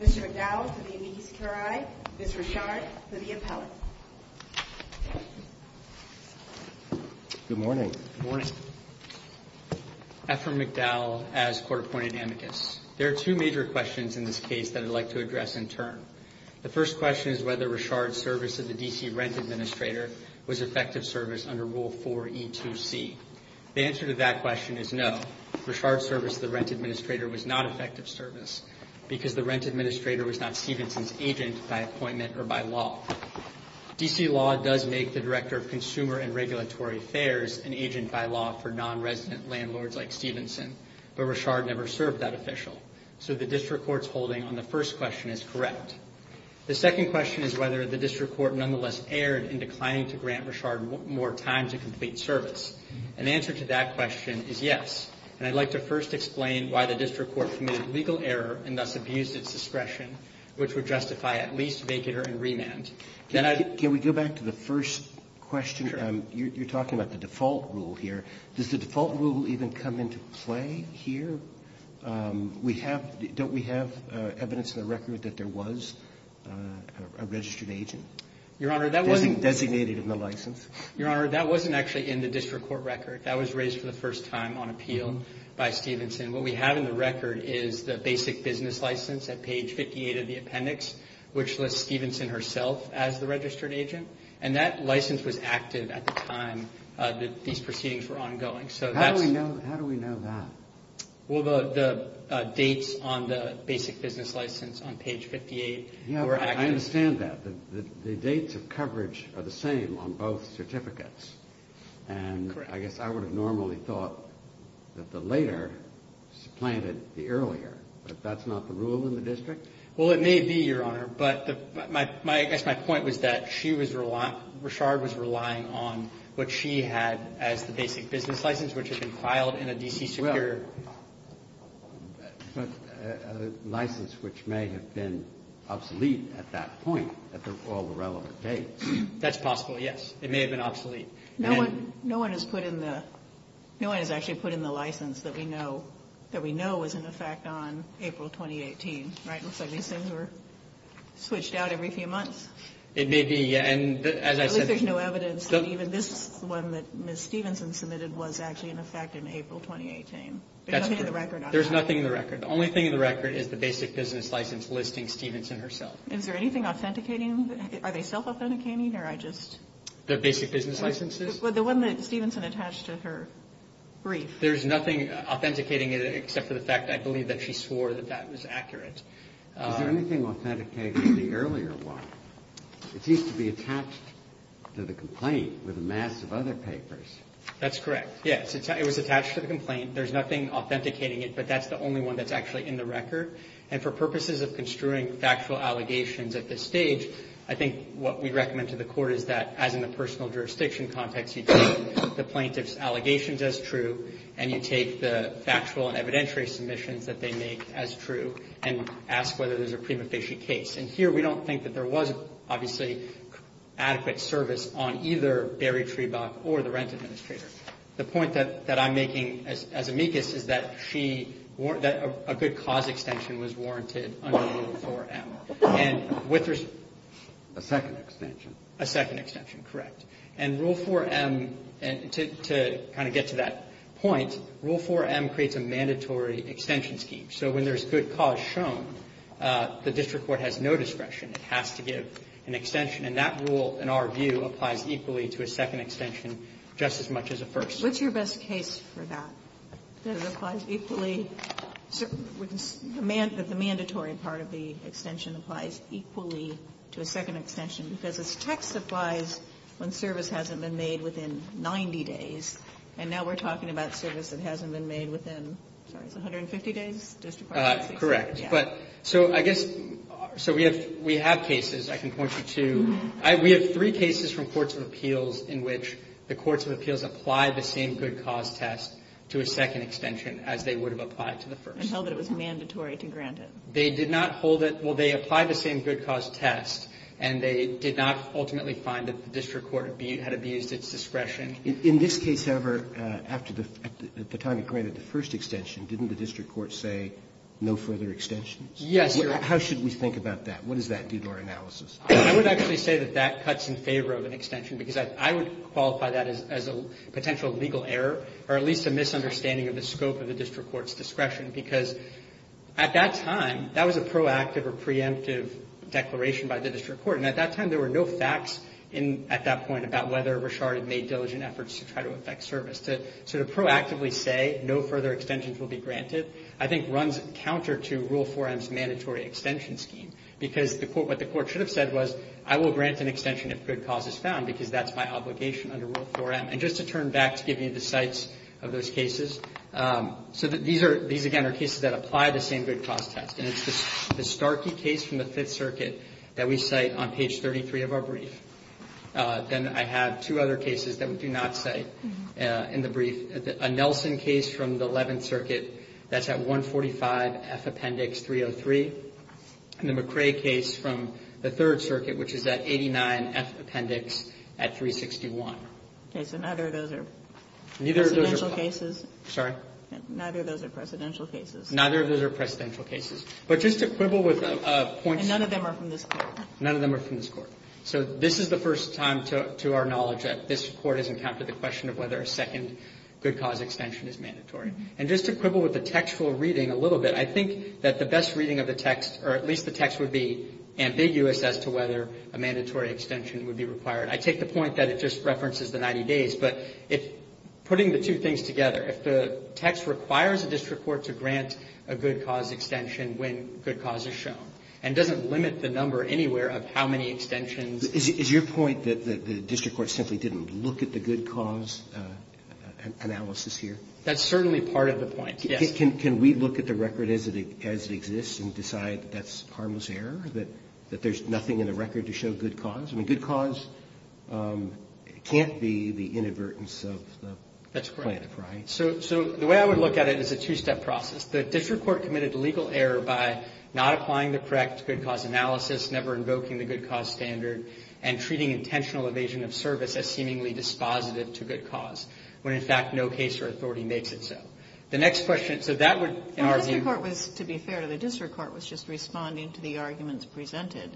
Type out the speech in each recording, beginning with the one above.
Mr. McDowell, for the amicus curiae, Ms. Reshard, for the appellate. Good morning. Good morning. Efrem McDowell, as court-appointed amicus. There are two major questions in this case that I'd like to address in turn. The first question is whether Reshard's service to the D.C. Rent Administrator was effective service under Rule 4E2C. The answer to that question is no. Reshard's service to the Rent Administrator was not effective service because the Rent Administrator was not Stevenson's agent by appointment or by law. D.C. law does make the Director of Consumer and Regulatory Affairs an agent by law for non-resident landlords like Stevenson, but Reshard never served that official. So the district court's holding on the first question is correct. The second question is whether the district court nonetheless erred in declining to grant Reshard more time to complete service. An answer to that question is yes. And I'd like to first explain why the district court committed legal error and thus abused its discretion, which would justify at least vacater and remand. Can we go back to the first question? Sure. You're talking about the default rule here. Does the default rule even come into play here? Don't we have evidence in the record that there was a registered agent designated in the license? Your Honor, that wasn't actually in the district court record. That was raised for the first time on appeal by Stevenson. What we have in the record is the basic business license at page 58 of the appendix, which lists Stevenson herself as the registered agent, and that license was active at the time that these proceedings were ongoing. How do we know that? Well, the dates on the basic business license on page 58 were active. I understand that. The dates of coverage are the same on both certificates. And I guess I would have normally thought that the later supplanted the earlier, but that's not the rule in the district? Well, it may be, Your Honor, but I guess my point was that Reshard was relying on what she had as the basic business license, which had been filed in a D.C. secure. A license which may have been obsolete at that point at all the relevant dates. That's possible, yes. It may have been obsolete. No one has put in the license that we know was in effect on April 2018, right? It looks like these things were switched out every few months. It may be. And as I said, there's no evidence that even this one that Ms. Stevenson submitted was actually in effect in April 2018. That's correct. There's nothing in the record. The only thing in the record is the basic business license listing Stevenson herself. Is there anything authenticating? Are they self-authenticating or I just? The basic business licenses? Well, the one that Stevenson attached to her brief. There's nothing authenticating it except for the fact I believe that she swore that that was accurate. Is there anything authenticating the earlier one? It seems to be attached to the complaint with a mass of other papers. That's correct, yes. It was attached to the complaint. There's nothing authenticating it, but that's the only one that's actually in the record. And for purposes of construing factual allegations at this stage, I think what we recommend to the court is that, as in the personal jurisdiction context, you take the plaintiff's allegations as true and you take the factual and evidentiary submissions that they make as true and ask whether there's a prima facie case. And here we don't think that there was, obviously, adequate service on either Barry Trebach or the rent administrator. The point that I'm making as amicus is that a good cause extension was warranted under Rule 4M. A second extension. A second extension, correct. And Rule 4M, to kind of get to that point, Rule 4M creates a mandatory extension scheme. So when there's good cause shown, the district court has no discretion. It has to give an extension. And that rule, in our view, applies equally to a second extension just as much as a first. What's your best case for that? That it applies equally? The mandatory part of the extension applies equally to a second extension because its text applies when service hasn't been made within 90 days, and now we're talking about service that hasn't been made within, sorry, 150 days? Correct. So I guess, so we have cases, I can point you to, we have three cases from courts of appeals in which the courts of appeals apply the same good cause test to a second extension as they would have applied to the first. And held that it was mandatory to grant it. They did not hold it, well, they applied the same good cause test and they did not ultimately find that the district court had abused its discretion. In this case, however, after the, at the time it granted the first extension, didn't the district court say no further extensions? Yes, Your Honor. How should we think about that? What does that do to our analysis? I would actually say that that cuts in favor of an extension because I would qualify that as a potential legal error or at least a misunderstanding of the scope of the district court's discretion because at that time, that was a proactive or preemptive declaration by the district court. And at that time, there were no facts at that point about whether Rashard had made diligent efforts to try to effect service. So to proactively say no further extensions will be granted, I think runs counter to Rule 4M's mandatory extension scheme. Because what the court should have said was, I will grant an extension if good cause is found because that's my obligation under Rule 4M. And just to turn back to give you the sites of those cases, so these again are cases that apply the same good cause test. And it's the Starkey case from the Fifth Circuit that we cite on page 33 of our brief. Then I have two other cases that we do not cite in the brief. A Nelson case from the Eleventh Circuit that's at 145F Appendix 303. And the McCrae case from the Third Circuit, which is at 89F Appendix at 361. Okay. So neither of those are presidential cases? Sorry? Neither of those are presidential cases. Neither of those are presidential cases. But just to quibble with points. And none of them are from this Court? None of them are from this Court. So this is the first time to our knowledge that this Court has encountered the question of whether a second good cause extension is mandatory. And just to quibble with the textual reading a little bit, I think that the best reading of the text, or at least the text would be ambiguous as to whether a mandatory extension would be required. I take the point that it just references the 90 days. But putting the two things together, if the text requires a district court to grant a good cause extension when good cause is shown, and doesn't limit the number anywhere of how many extensions. Is your point that the district court simply didn't look at the good cause analysis here? That's certainly part of the point, yes. Can we look at the record as it exists and decide that that's harmless error, that there's nothing in the record to show good cause? I mean, good cause can't be the inadvertence of the plaintiff, right? That's correct. So the way I would look at it is a two-step process. The district court committed legal error by not applying the correct good cause analysis, never invoking the good cause standard, and treating intentional evasion of service as seemingly dispositive to good cause, when, in fact, no case or authority makes it so. The next question, so that would, in our view. Well, the district court was, to be fair to the district court, was just responding to the arguments presented.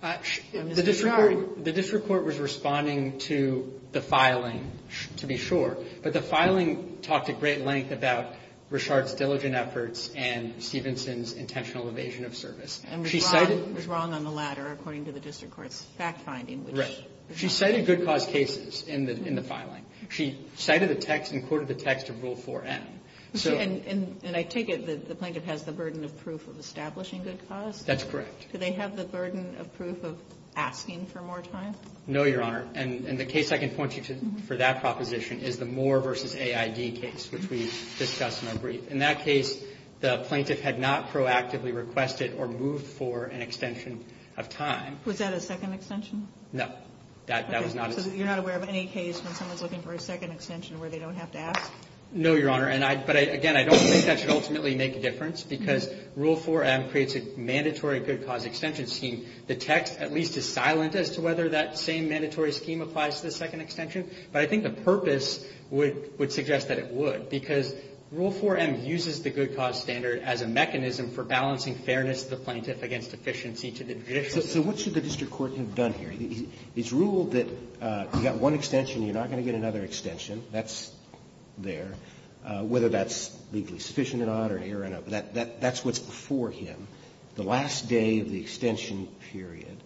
The district court was responding to the filing, to be sure, but the filing talked at great length about Richard's diligent efforts and Stevenson's intentional evasion of service. And was wrong on the latter, according to the district court's fact-finding. Right. She cited good cause cases in the filing. She cited the text and quoted the text of Rule 4M. And I take it that the plaintiff has the burden of proof of establishing good cause? That's correct. Do they have the burden of proof of asking for more time? No, Your Honor. And the case I can point you to for that proposition is the Moore v. AID case, which we discussed in our brief. In that case, the plaintiff had not proactively requested or moved for an extension of time. Was that a second extension? No. That was not. So you're not aware of any case when someone's looking for a second extension where they don't have to ask? No, Your Honor. But, again, I don't think that should ultimately make a difference, because Rule 4M creates a mandatory good cause extension scheme. The text at least is silent as to whether that same mandatory scheme applies to the second extension. But I think the purpose would suggest that it would, because Rule 4M uses the good cause standard as a mechanism for balancing fairness of the plaintiff against efficiency to the judicial system. So what should the district court have done here? It's ruled that you've got one extension, you're not going to get another extension. That's there. Whether that's legally sufficient or not, that's what's before him. The last day of the extension period,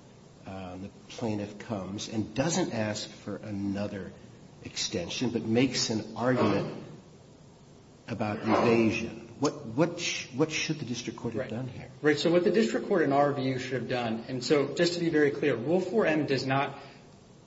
the plaintiff comes and doesn't ask for another extension, but makes an argument about evasion. What should the district court have done here? Right. So what the district court, in our view, should have done, and so just to be very clear, Rule 4M does not,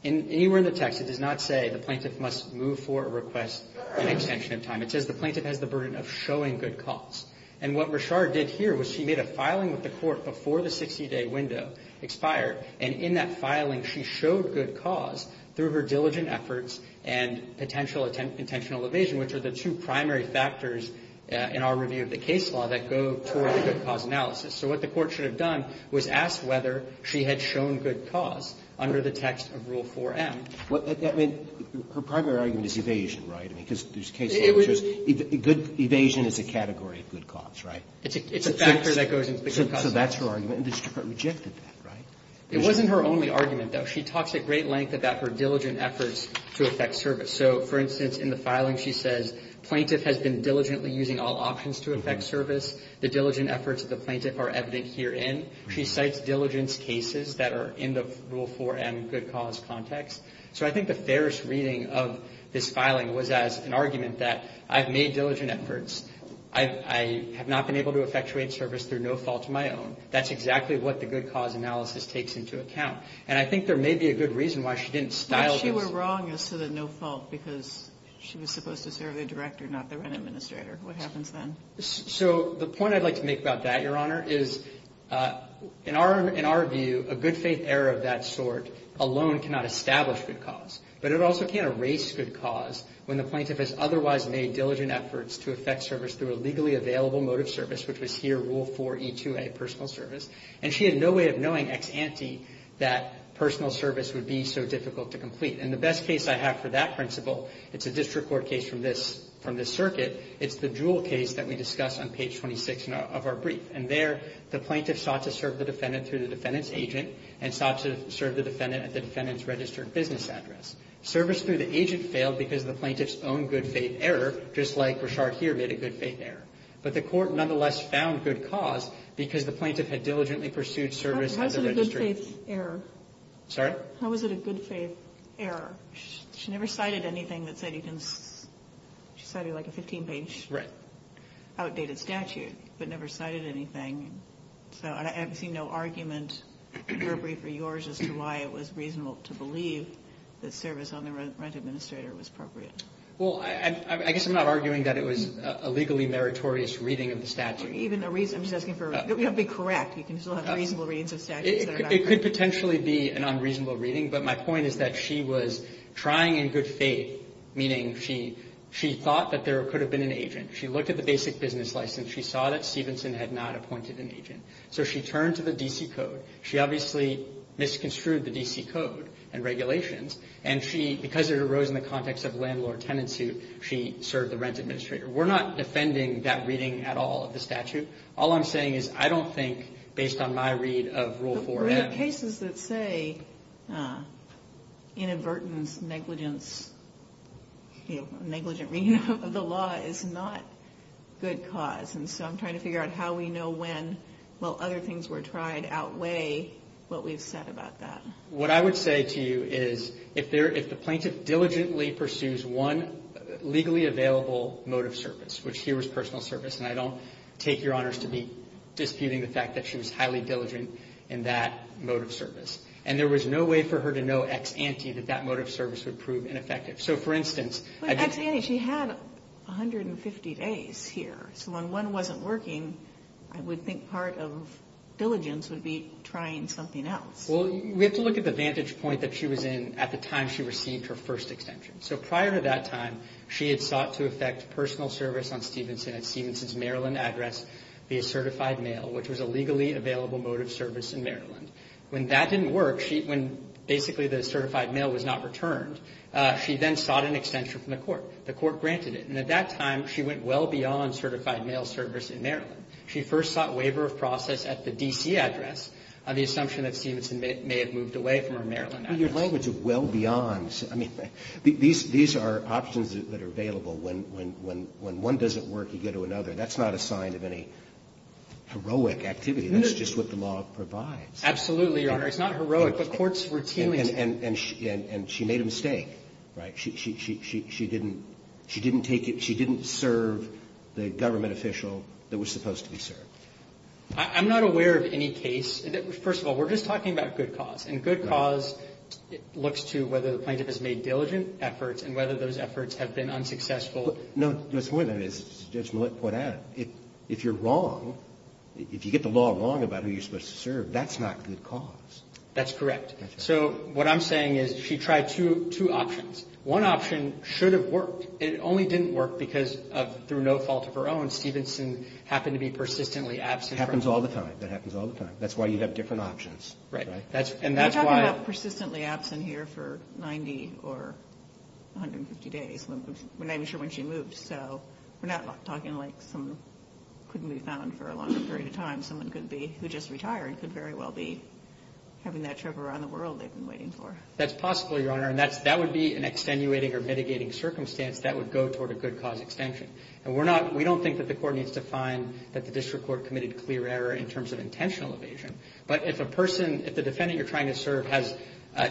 anywhere in the text, it does not say the plaintiff must move for a request for an extension of time. It says the plaintiff has the burden of showing good cause. And what Rashard did here was she made a filing with the court before the 60-day window expired, and in that filing, she showed good cause through her diligent efforts and potential intentional evasion, which are the two primary factors in our review of the case law that go toward the good cause analysis. So what the court should have done was ask whether she had shown good cause under the text of Rule 4M. I mean, her primary argument is evasion, right? I mean, because there's case law that shows good evasion is a category of good cause, right? It's a factor that goes into the good cause analysis. So that's her argument. And the district court rejected that, right? It wasn't her only argument, though. She talks at great length about her diligent efforts to affect service. So, for instance, in the filing, she says plaintiff has been diligently using all options to affect service. The diligent efforts of the plaintiff are evident herein. She cites diligence cases that are in the Rule 4M good cause context. So I think the fairest reading of this filing was as an argument that I have made diligent efforts. I have not been able to effectuate service through no fault of my own. That's exactly what the good cause analysis takes into account. And I think there may be a good reason why she didn't style this. Kagan. But she were wrong as to the no fault because she was supposed to serve the director, not the rent administrator. What happens then? So the point I'd like to make about that, Your Honor, is in our view, a good faith error of that sort alone cannot establish good cause. But it also can't erase good cause when the plaintiff has otherwise made diligent efforts to affect service through a legally available mode of service, which was here Rule 4E2A, personal service. And she had no way of knowing ex ante that personal service would be so difficult to complete. And the best case I have for that principle, it's a district court case from this circuit. It's the Jewell case that we discuss on page 26 of our brief. And there, the plaintiff sought to serve the defendant through the defendant's agent and sought to serve the defendant at the defendant's registered business address. Service through the agent failed because the plaintiff's own good faith error, just like Rashard here made a good faith error. But the court nonetheless found good cause because the plaintiff had diligently pursued service at the registry. How is it a good faith error? Sorry? How is it a good faith error? She never cited anything that said you can, she cited like a 15 page outdated statute, but never cited anything. So I haven't seen no argument in her brief or yours as to why it was reasonable to believe that service on the rent administrator was appropriate. Well, I guess I'm not arguing that it was a legally meritorious reading of the statute. Even a reason, I'm just asking for, you have to be correct. You can still have reasonable readings of statutes that are not correct. It could potentially be an unreasonable reading. But my point is that she was trying in good faith, meaning she thought that there could have been an agent. She looked at the basic business license. She saw that Stevenson had not appointed an agent. So she turned to the D.C. code. She obviously misconstrued the D.C. code and regulations. And she, because it arose in the context of landlord-tenant suit, she served the rent administrator. We're not defending that reading at all of the statute. All I'm saying is I don't think, based on my read of Rule 4M. There are cases that say inadvertence, negligence, negligent reading of the law is not good cause. And so I'm trying to figure out how we know when, while other things were tried, outweigh what we've said about that. What I would say to you is if the plaintiff diligently pursues one legally available mode of service, which here was personal service, and I don't take your in that mode of service. And there was no way for her to know ex-ante that that mode of service would prove ineffective. So, for instance. But ex-ante, she had 150 days here. So when one wasn't working, I would think part of diligence would be trying something else. Well, we have to look at the vantage point that she was in at the time she received her first extension. So prior to that time, she had sought to effect personal service on Stevenson at Maryland. When that didn't work, when basically the certified mail was not returned, she then sought an extension from the court. The court granted it. And at that time, she went well beyond certified mail service in Maryland. She first sought waiver of process at the D.C. address on the assumption that Stevenson may have moved away from her Maryland address. Well, your language of well beyond. I mean, these are options that are available. When one doesn't work, you go to another. That's not a sign of any heroic activity. That's just what the law provides. Absolutely, Your Honor. It's not heroic, but courts routinely. And she made a mistake, right? She didn't take it. She didn't serve the government official that was supposed to be served. I'm not aware of any case. First of all, we're just talking about good cause. And good cause looks to whether the plaintiff has made diligent efforts and whether those efforts have been unsuccessful. No, the point is, as Judge Millett pointed out, if you're wrong, if you get the law wrong about who you're supposed to serve, that's not good cause. That's correct. So what I'm saying is she tried two options. One option should have worked. It only didn't work because of, through no fault of her own, Stevenson happened to be persistently absent. It happens all the time. That happens all the time. That's why you have different options. Right. And that's why. We're talking about persistently absent here for 90 or 150 days. We're not even sure when she moved. So we're not talking like someone couldn't be found for a longer period of time. Someone could be, who just retired, could very well be having that trip around the world they've been waiting for. That's possible, Your Honor. And that would be an extenuating or mitigating circumstance that would go toward a good cause extension. And we're not, we don't think that the court needs to find that the district court committed clear error in terms of intentional evasion. But if a person, if the defendant you're trying to serve has,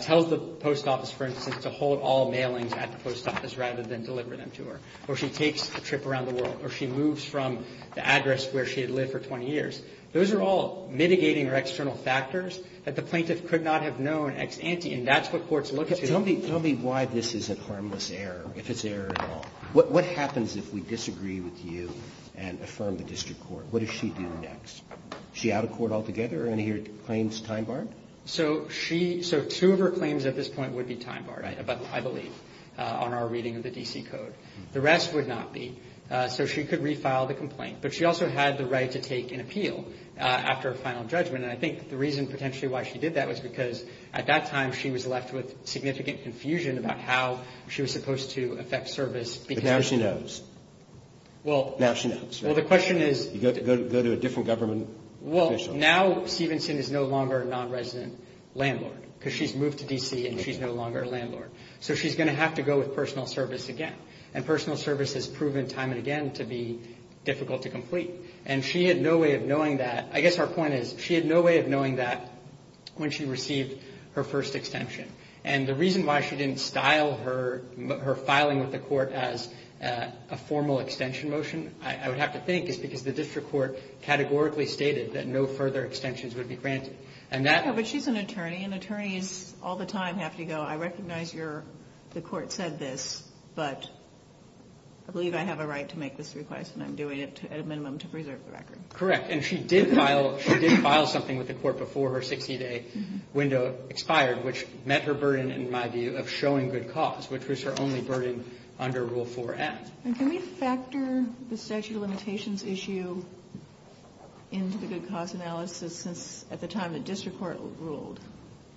tells the post office, for instance, to hold all mailings at the post office rather than deliver them to her, or she takes a trip around the world, or she moves from the address where she had lived for 20 years, those are all mitigating or external factors that the plaintiff could not have known ex ante. And that's what courts look to. Tell me why this isn't harmless error, if it's error at all. What happens if we disagree with you and affirm the district court? What does she do next? Is she out of court altogether? Are any of her claims time-barred? So she, so two of her claims at this point would be time-barred, I believe, on our reading of the D.C. Code. The rest would not be. So she could refile the complaint. But she also had the right to take an appeal after a final judgment. And I think the reason potentially why she did that was because at that time she was left with significant confusion about how she was supposed to affect service because of this. But now she knows. Well. Now she knows. Well, the question is. You go to a different government official. Well, now Stevenson is no longer a nonresident landlord because she's moved to D.C. and she's no longer a landlord. So she's going to have to go with personal service again. And personal service has proven time and again to be difficult to complete. And she had no way of knowing that. I guess our point is she had no way of knowing that when she received her first extension. And the reason why she didn't style her filing with the court as a formal extension motion, I would have to think, is because the district court categorically stated that no further extensions would be granted. And that. No, but she's an attorney. And attorneys all the time have to go, I recognize the court said this, but I believe I have a right to make this request and I'm doing it at a minimum to preserve the record. Correct. And she did file something with the court before her 60-day window expired, which met her burden, in my view, of showing good cause, which was her only burden under Rule 4a. And can we factor the statute of limitations issue into the good cause analysis since at the time the district court ruled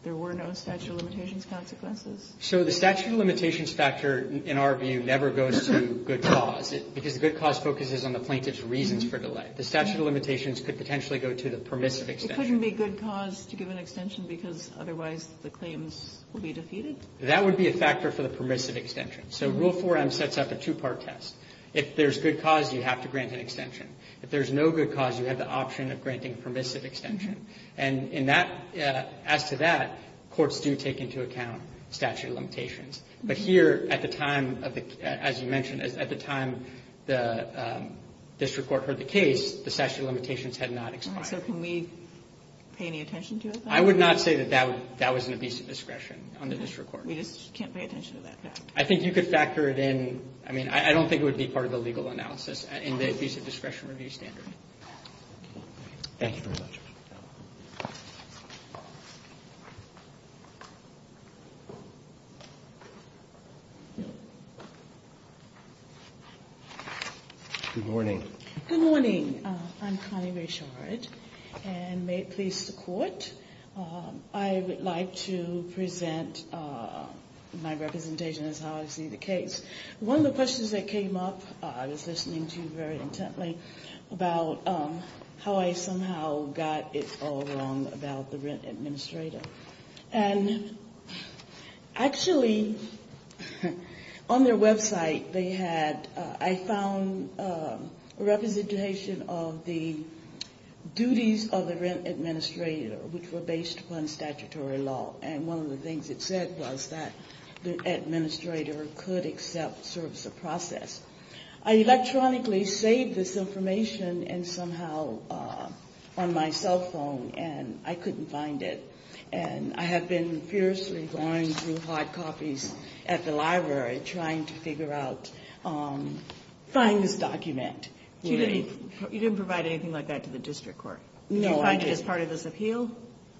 there were no statute of limitations consequences? So the statute of limitations factor, in our view, never goes to good cause, because the good cause focuses on the plaintiff's reasons for delay. The statute of limitations could potentially go to the permissive extension. It couldn't be good cause to give an extension because otherwise the claims will be defeated? That would be a factor for the permissive extension. So Rule 4m sets up a two-part test. If there's good cause, you have to grant an extension. If there's no good cause, you have the option of granting permissive extension. And in that, as to that, courts do take into account statute of limitations. But here, at the time, as you mentioned, at the time the district court heard the case, the statute of limitations had not expired. So can we pay any attention to it, then? I would not say that that was an abusive discretion on the district court. We just can't pay attention to that. I think you could factor it in. I mean, I don't think it would be part of the legal analysis in the abusive discretion review standard. Thank you very much. Good morning. Good morning. I'm Connie Rayshard, and may it please the Court, I would like to present my presentation as how I see the case. One of the questions that came up, I was listening to very intently, about how I somehow got it all wrong about the rent administrator. And actually, on their website, they had, I found a representation of the duties of the rent administrator, which were based upon statutory law. And one of the things it said was that the administrator could accept service of process. I electronically saved this information, and somehow, on my cell phone, and I couldn't find it. And I have been fiercely going through hard copies at the library, trying to figure out, finding this document. You didn't provide anything like that to the district court? No, I didn't. Did you find it as part of this appeal?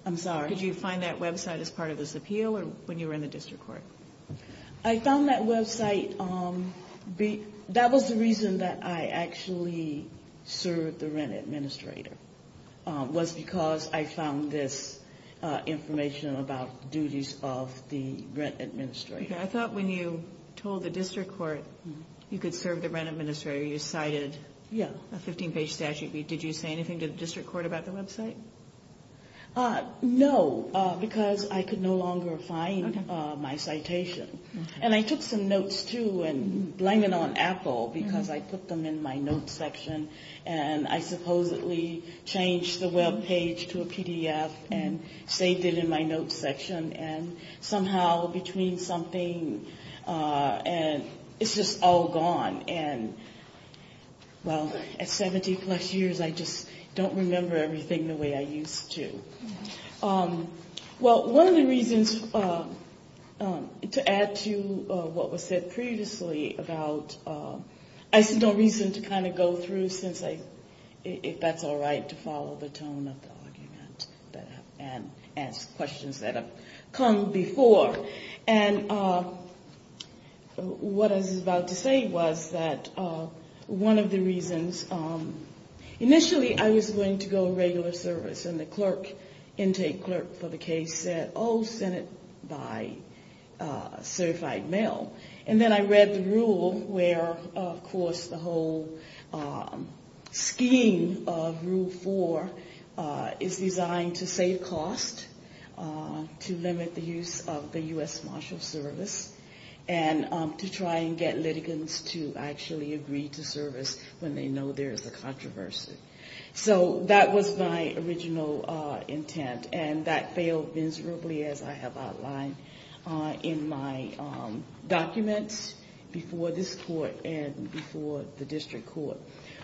I'm sorry? Did you find that website as part of this appeal, or when you were in the district court? I found that website. That was the reason that I actually served the rent administrator, was because I found this information about duties of the rent administrator. Okay. I thought when you told the district court you could serve the rent administrator, you cited a 15-page statute. Did you say anything to the district court about the website? No, because I could no longer find my citation. And I took some notes, too, and blame it on Apple, because I put them in my notes section, and I supposedly changed the web page to a PDF and saved it in my notes section. And somehow, between something, and it's just all gone. And, well, at 70-plus years, I just don't remember everything the way I used to. Well, one of the reasons, to add to what was said previously about, I see no reason to kind of go through since I, if that's all right, to follow the tone of the argument and ask questions that have come before. And what I was about to say was that one of the reasons, initially I was going to go regular service, and the clerk, intake clerk for the case said, oh, send it by certified mail. And then I read the rule where, of course, the whole scheme of Rule 4 is designed to save cost, to limit the use of the U.S. Marshals Service, and to try and get litigants to actually agree to service when they know there is a controversy. So that was my original intent. And that failed miserably, as I have outlined in my documents before this court and before the district court.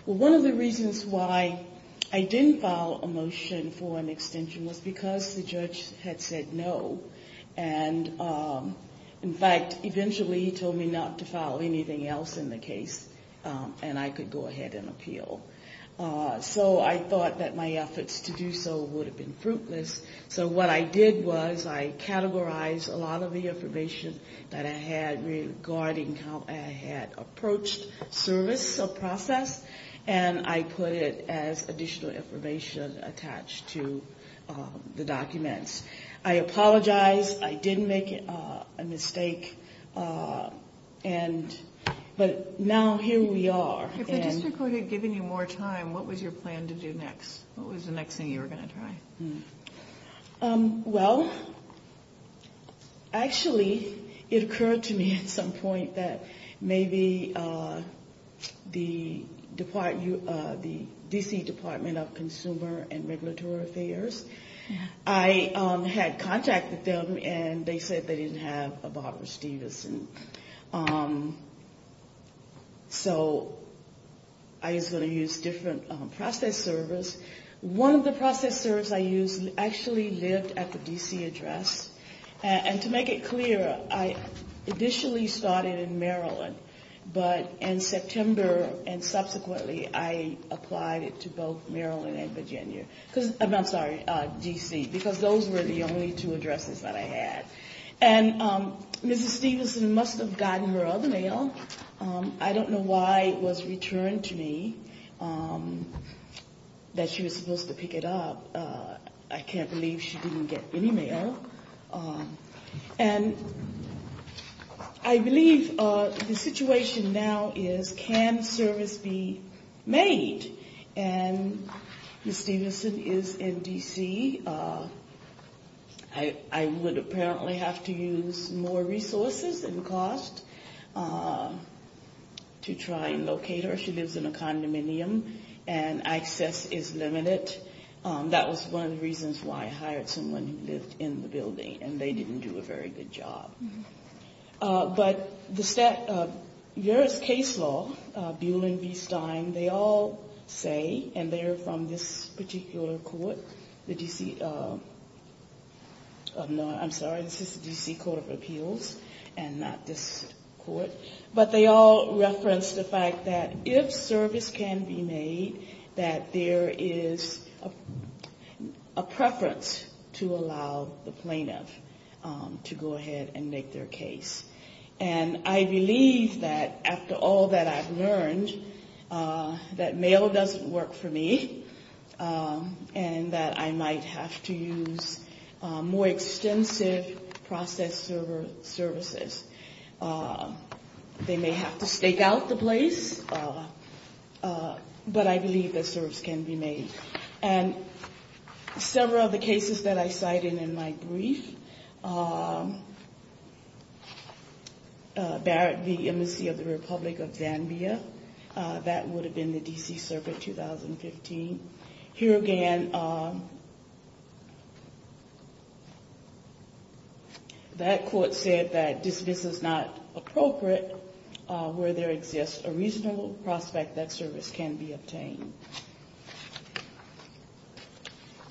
Well, one of the reasons why I didn't file a motion for an extension was because the judge had said no. And, in fact, eventually he told me not to file anything else in the case, and I could go ahead and appeal. So I thought that my efforts to do so would have been fruitless. So what I did was I categorized a lot of the information that I had regarding how I had approached service or process, and I put it as additional information attached to the documents. I apologize. I did make a mistake. But now here we are. If the district court had given you more time, what was your plan to do next? What was the next thing you were going to try? Well, actually, it occurred to me at some point that maybe the D.C. Department of Consumer and Regulatory Affairs, I had contacted them, and they said they didn't have a Barbara Stevenson. So I was going to use different process service. One of the process service I used actually lived at the D.C. address. And to make it clear, I initially started in Maryland, but in September and subsequently I applied to both Maryland and Virginia. I'm sorry, D.C., because those were the only two addresses that I had. And Mrs. Stevenson must have gotten her other mail. I don't know why it was returned to me that she was supposed to pick it up. I can't believe she didn't get any mail. And I believe the situation now is can service be made? And Mrs. Stevenson is in D.C. I would apparently have to use more resources and cost to try and locate her. She lives in a condominium, and access is limited. That was one of the reasons why I hired someone who lived in the building, and they didn't do a very good job. But there is case law, Buell and B. Stein, they all say, and they're from this particular court, the D.C. I'm sorry, this is the D.C. Court of Appeals and not this court. But they all reference the fact that if service can be made, that there is a preference to allow the plaintiff to go ahead and make their case. And I believe that after all that I've learned, that mail doesn't work for me, and that I might have to use more extensive process services. They may have to stake out the place, but I believe that service can be made. And several of the cases that I cited in my brief, Barrett v. Embassy of the Republic of Zambia, that would have been the D.C. Circuit 2015. Here again, that court said that this is not appropriate where there exists a reasonable prospect that service can be obtained.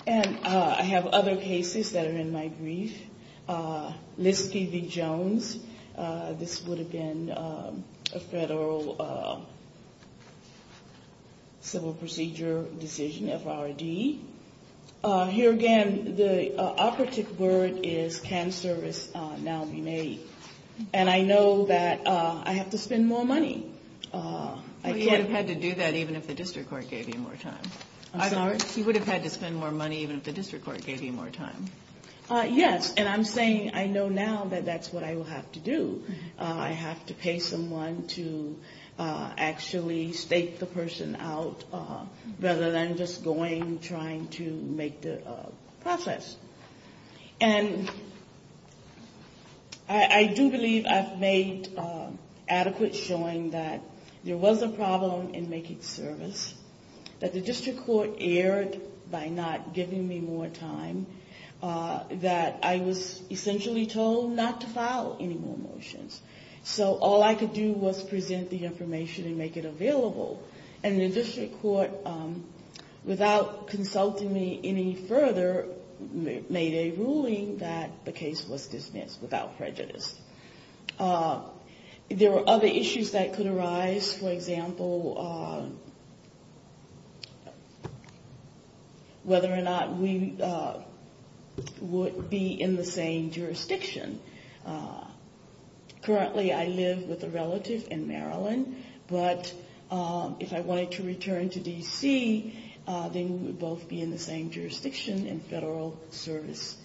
And I have other cases that are in my brief. List v. Jones. This would have been a federal civil procedure decision, FRD. Here again, the operative word is can service now be made. And I know that I have to spend more money. But you would have had to do that even if the district court gave you more time. I'm sorry? You would have had to spend more money even if the district court gave you more time. Yes. And I'm saying I know now that that's what I will have to do. I have to pay someone to actually stake the person out rather than just going, trying to make the process. And I do believe I've made adequate showing that there was a problem in making service, that the district court erred by not giving me more time, that I was essentially told not to file any more motions. So all I could do was present the information and make it available. And the district court, without consulting me any further, made a ruling that the case was dismissed without prejudice. There were other issues that could arise. For example, whether or not we would be in the same jurisdiction. Currently, I live with a relative in Maryland. But if I wanted to return to D.C., then we would both be in the same jurisdiction and federal service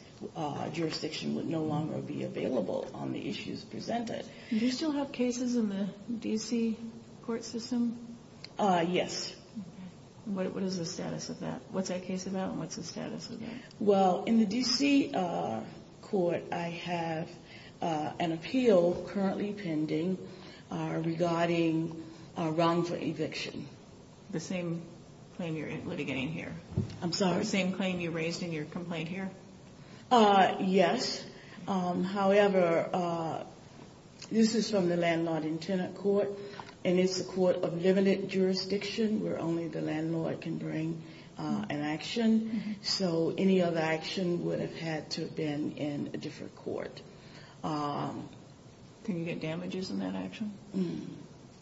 jurisdiction would no longer be available on the issues presented. Do you still have cases in the D.C. court system? Yes. What is the status of that? What's that case about and what's the status of that? Well, in the D.C. court, I have an appeal currently pending regarding wrongful eviction. The same claim you're litigating here? I'm sorry. The same claim you raised in your complaint here? Yes. However, this is from the Landlord and Tenant Court, and it's a court of limited jurisdiction where only the landlord can bring an action. So any other action would have had to have been in a different court. Can you get damages in that action?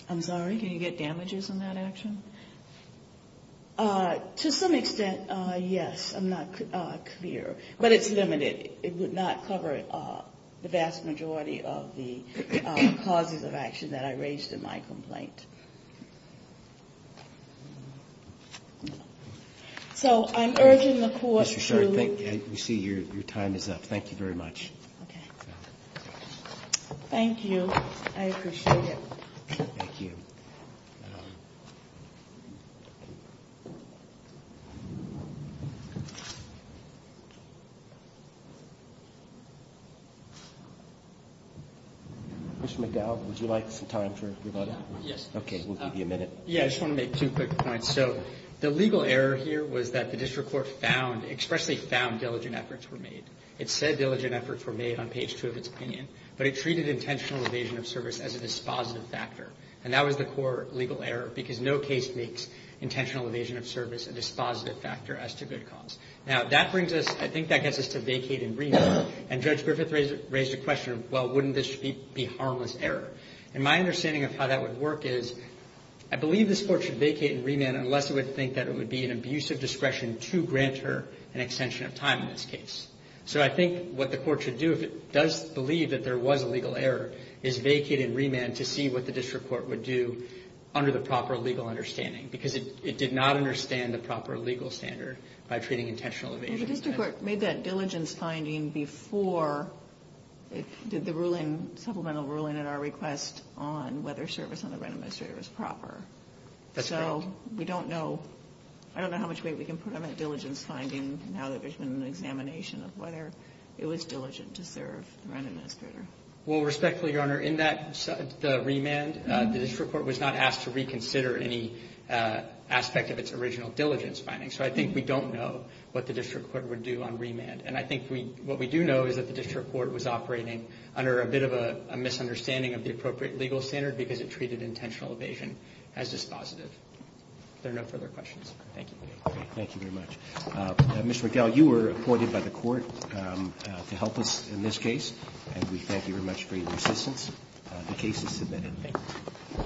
I'm sorry? Can you get damages in that action? To some extent, yes. I'm not clear. But it's limited. It would not cover the vast majority of the causes of action that I raised in my complaint. So I'm urging the court to ---- Mr. Sherrod, we see your time is up. Thank you very much. Okay. Thank you. I appreciate it. Thank you. Mr. McDowell, would you like some time for rebuttal? Yes. Okay. We'll give you a minute. Yes. I just want to make two quick points. So the legal error here was that the district court found ---- expressly found diligent efforts were made. It said diligent efforts were made on page 2 of its opinion, but it treated intentional evasion of service as a dispositive factor. And that was the core legal error, because no case makes intentional evasion of service a dispositive factor as to good cause. Now, that brings us ---- I think that gets us to vacate in reading. And Judge Griffith raised a question of, well, wouldn't this be harmless error? And my understanding of how that would work is, I believe this Court should vacate and remand unless it would think that it would be an abuse of discretion to grant her an extension of time in this case. So I think what the Court should do if it does believe that there was a legal error is vacate and remand to see what the district court would do under the proper legal understanding, because it did not understand the proper legal standard by treating intentional evasion as ---- The district court made that diligence finding before it did the ruling, supplemental ruling at our request on whether service on the rent administrator was proper. That's correct. So we don't know ---- I don't know how much weight we can put on that diligence finding now that there's been an examination of whether it was diligent to serve the rent administrator. Well, respectfully, Your Honor, in that remand, the district court was not asked to reconsider any aspect of its original diligence finding. So I think we don't know what the district court would do on remand. And I think what we do know is that the district court was operating under a bit of a misunderstanding of the appropriate legal standard because it treated intentional evasion as dispositive. If there are no further questions. Thank you. Thank you very much. Mr. McGill, you were appointed by the Court to help us in this case, and we thank you very much for your assistance. The case is submitted. Thank you.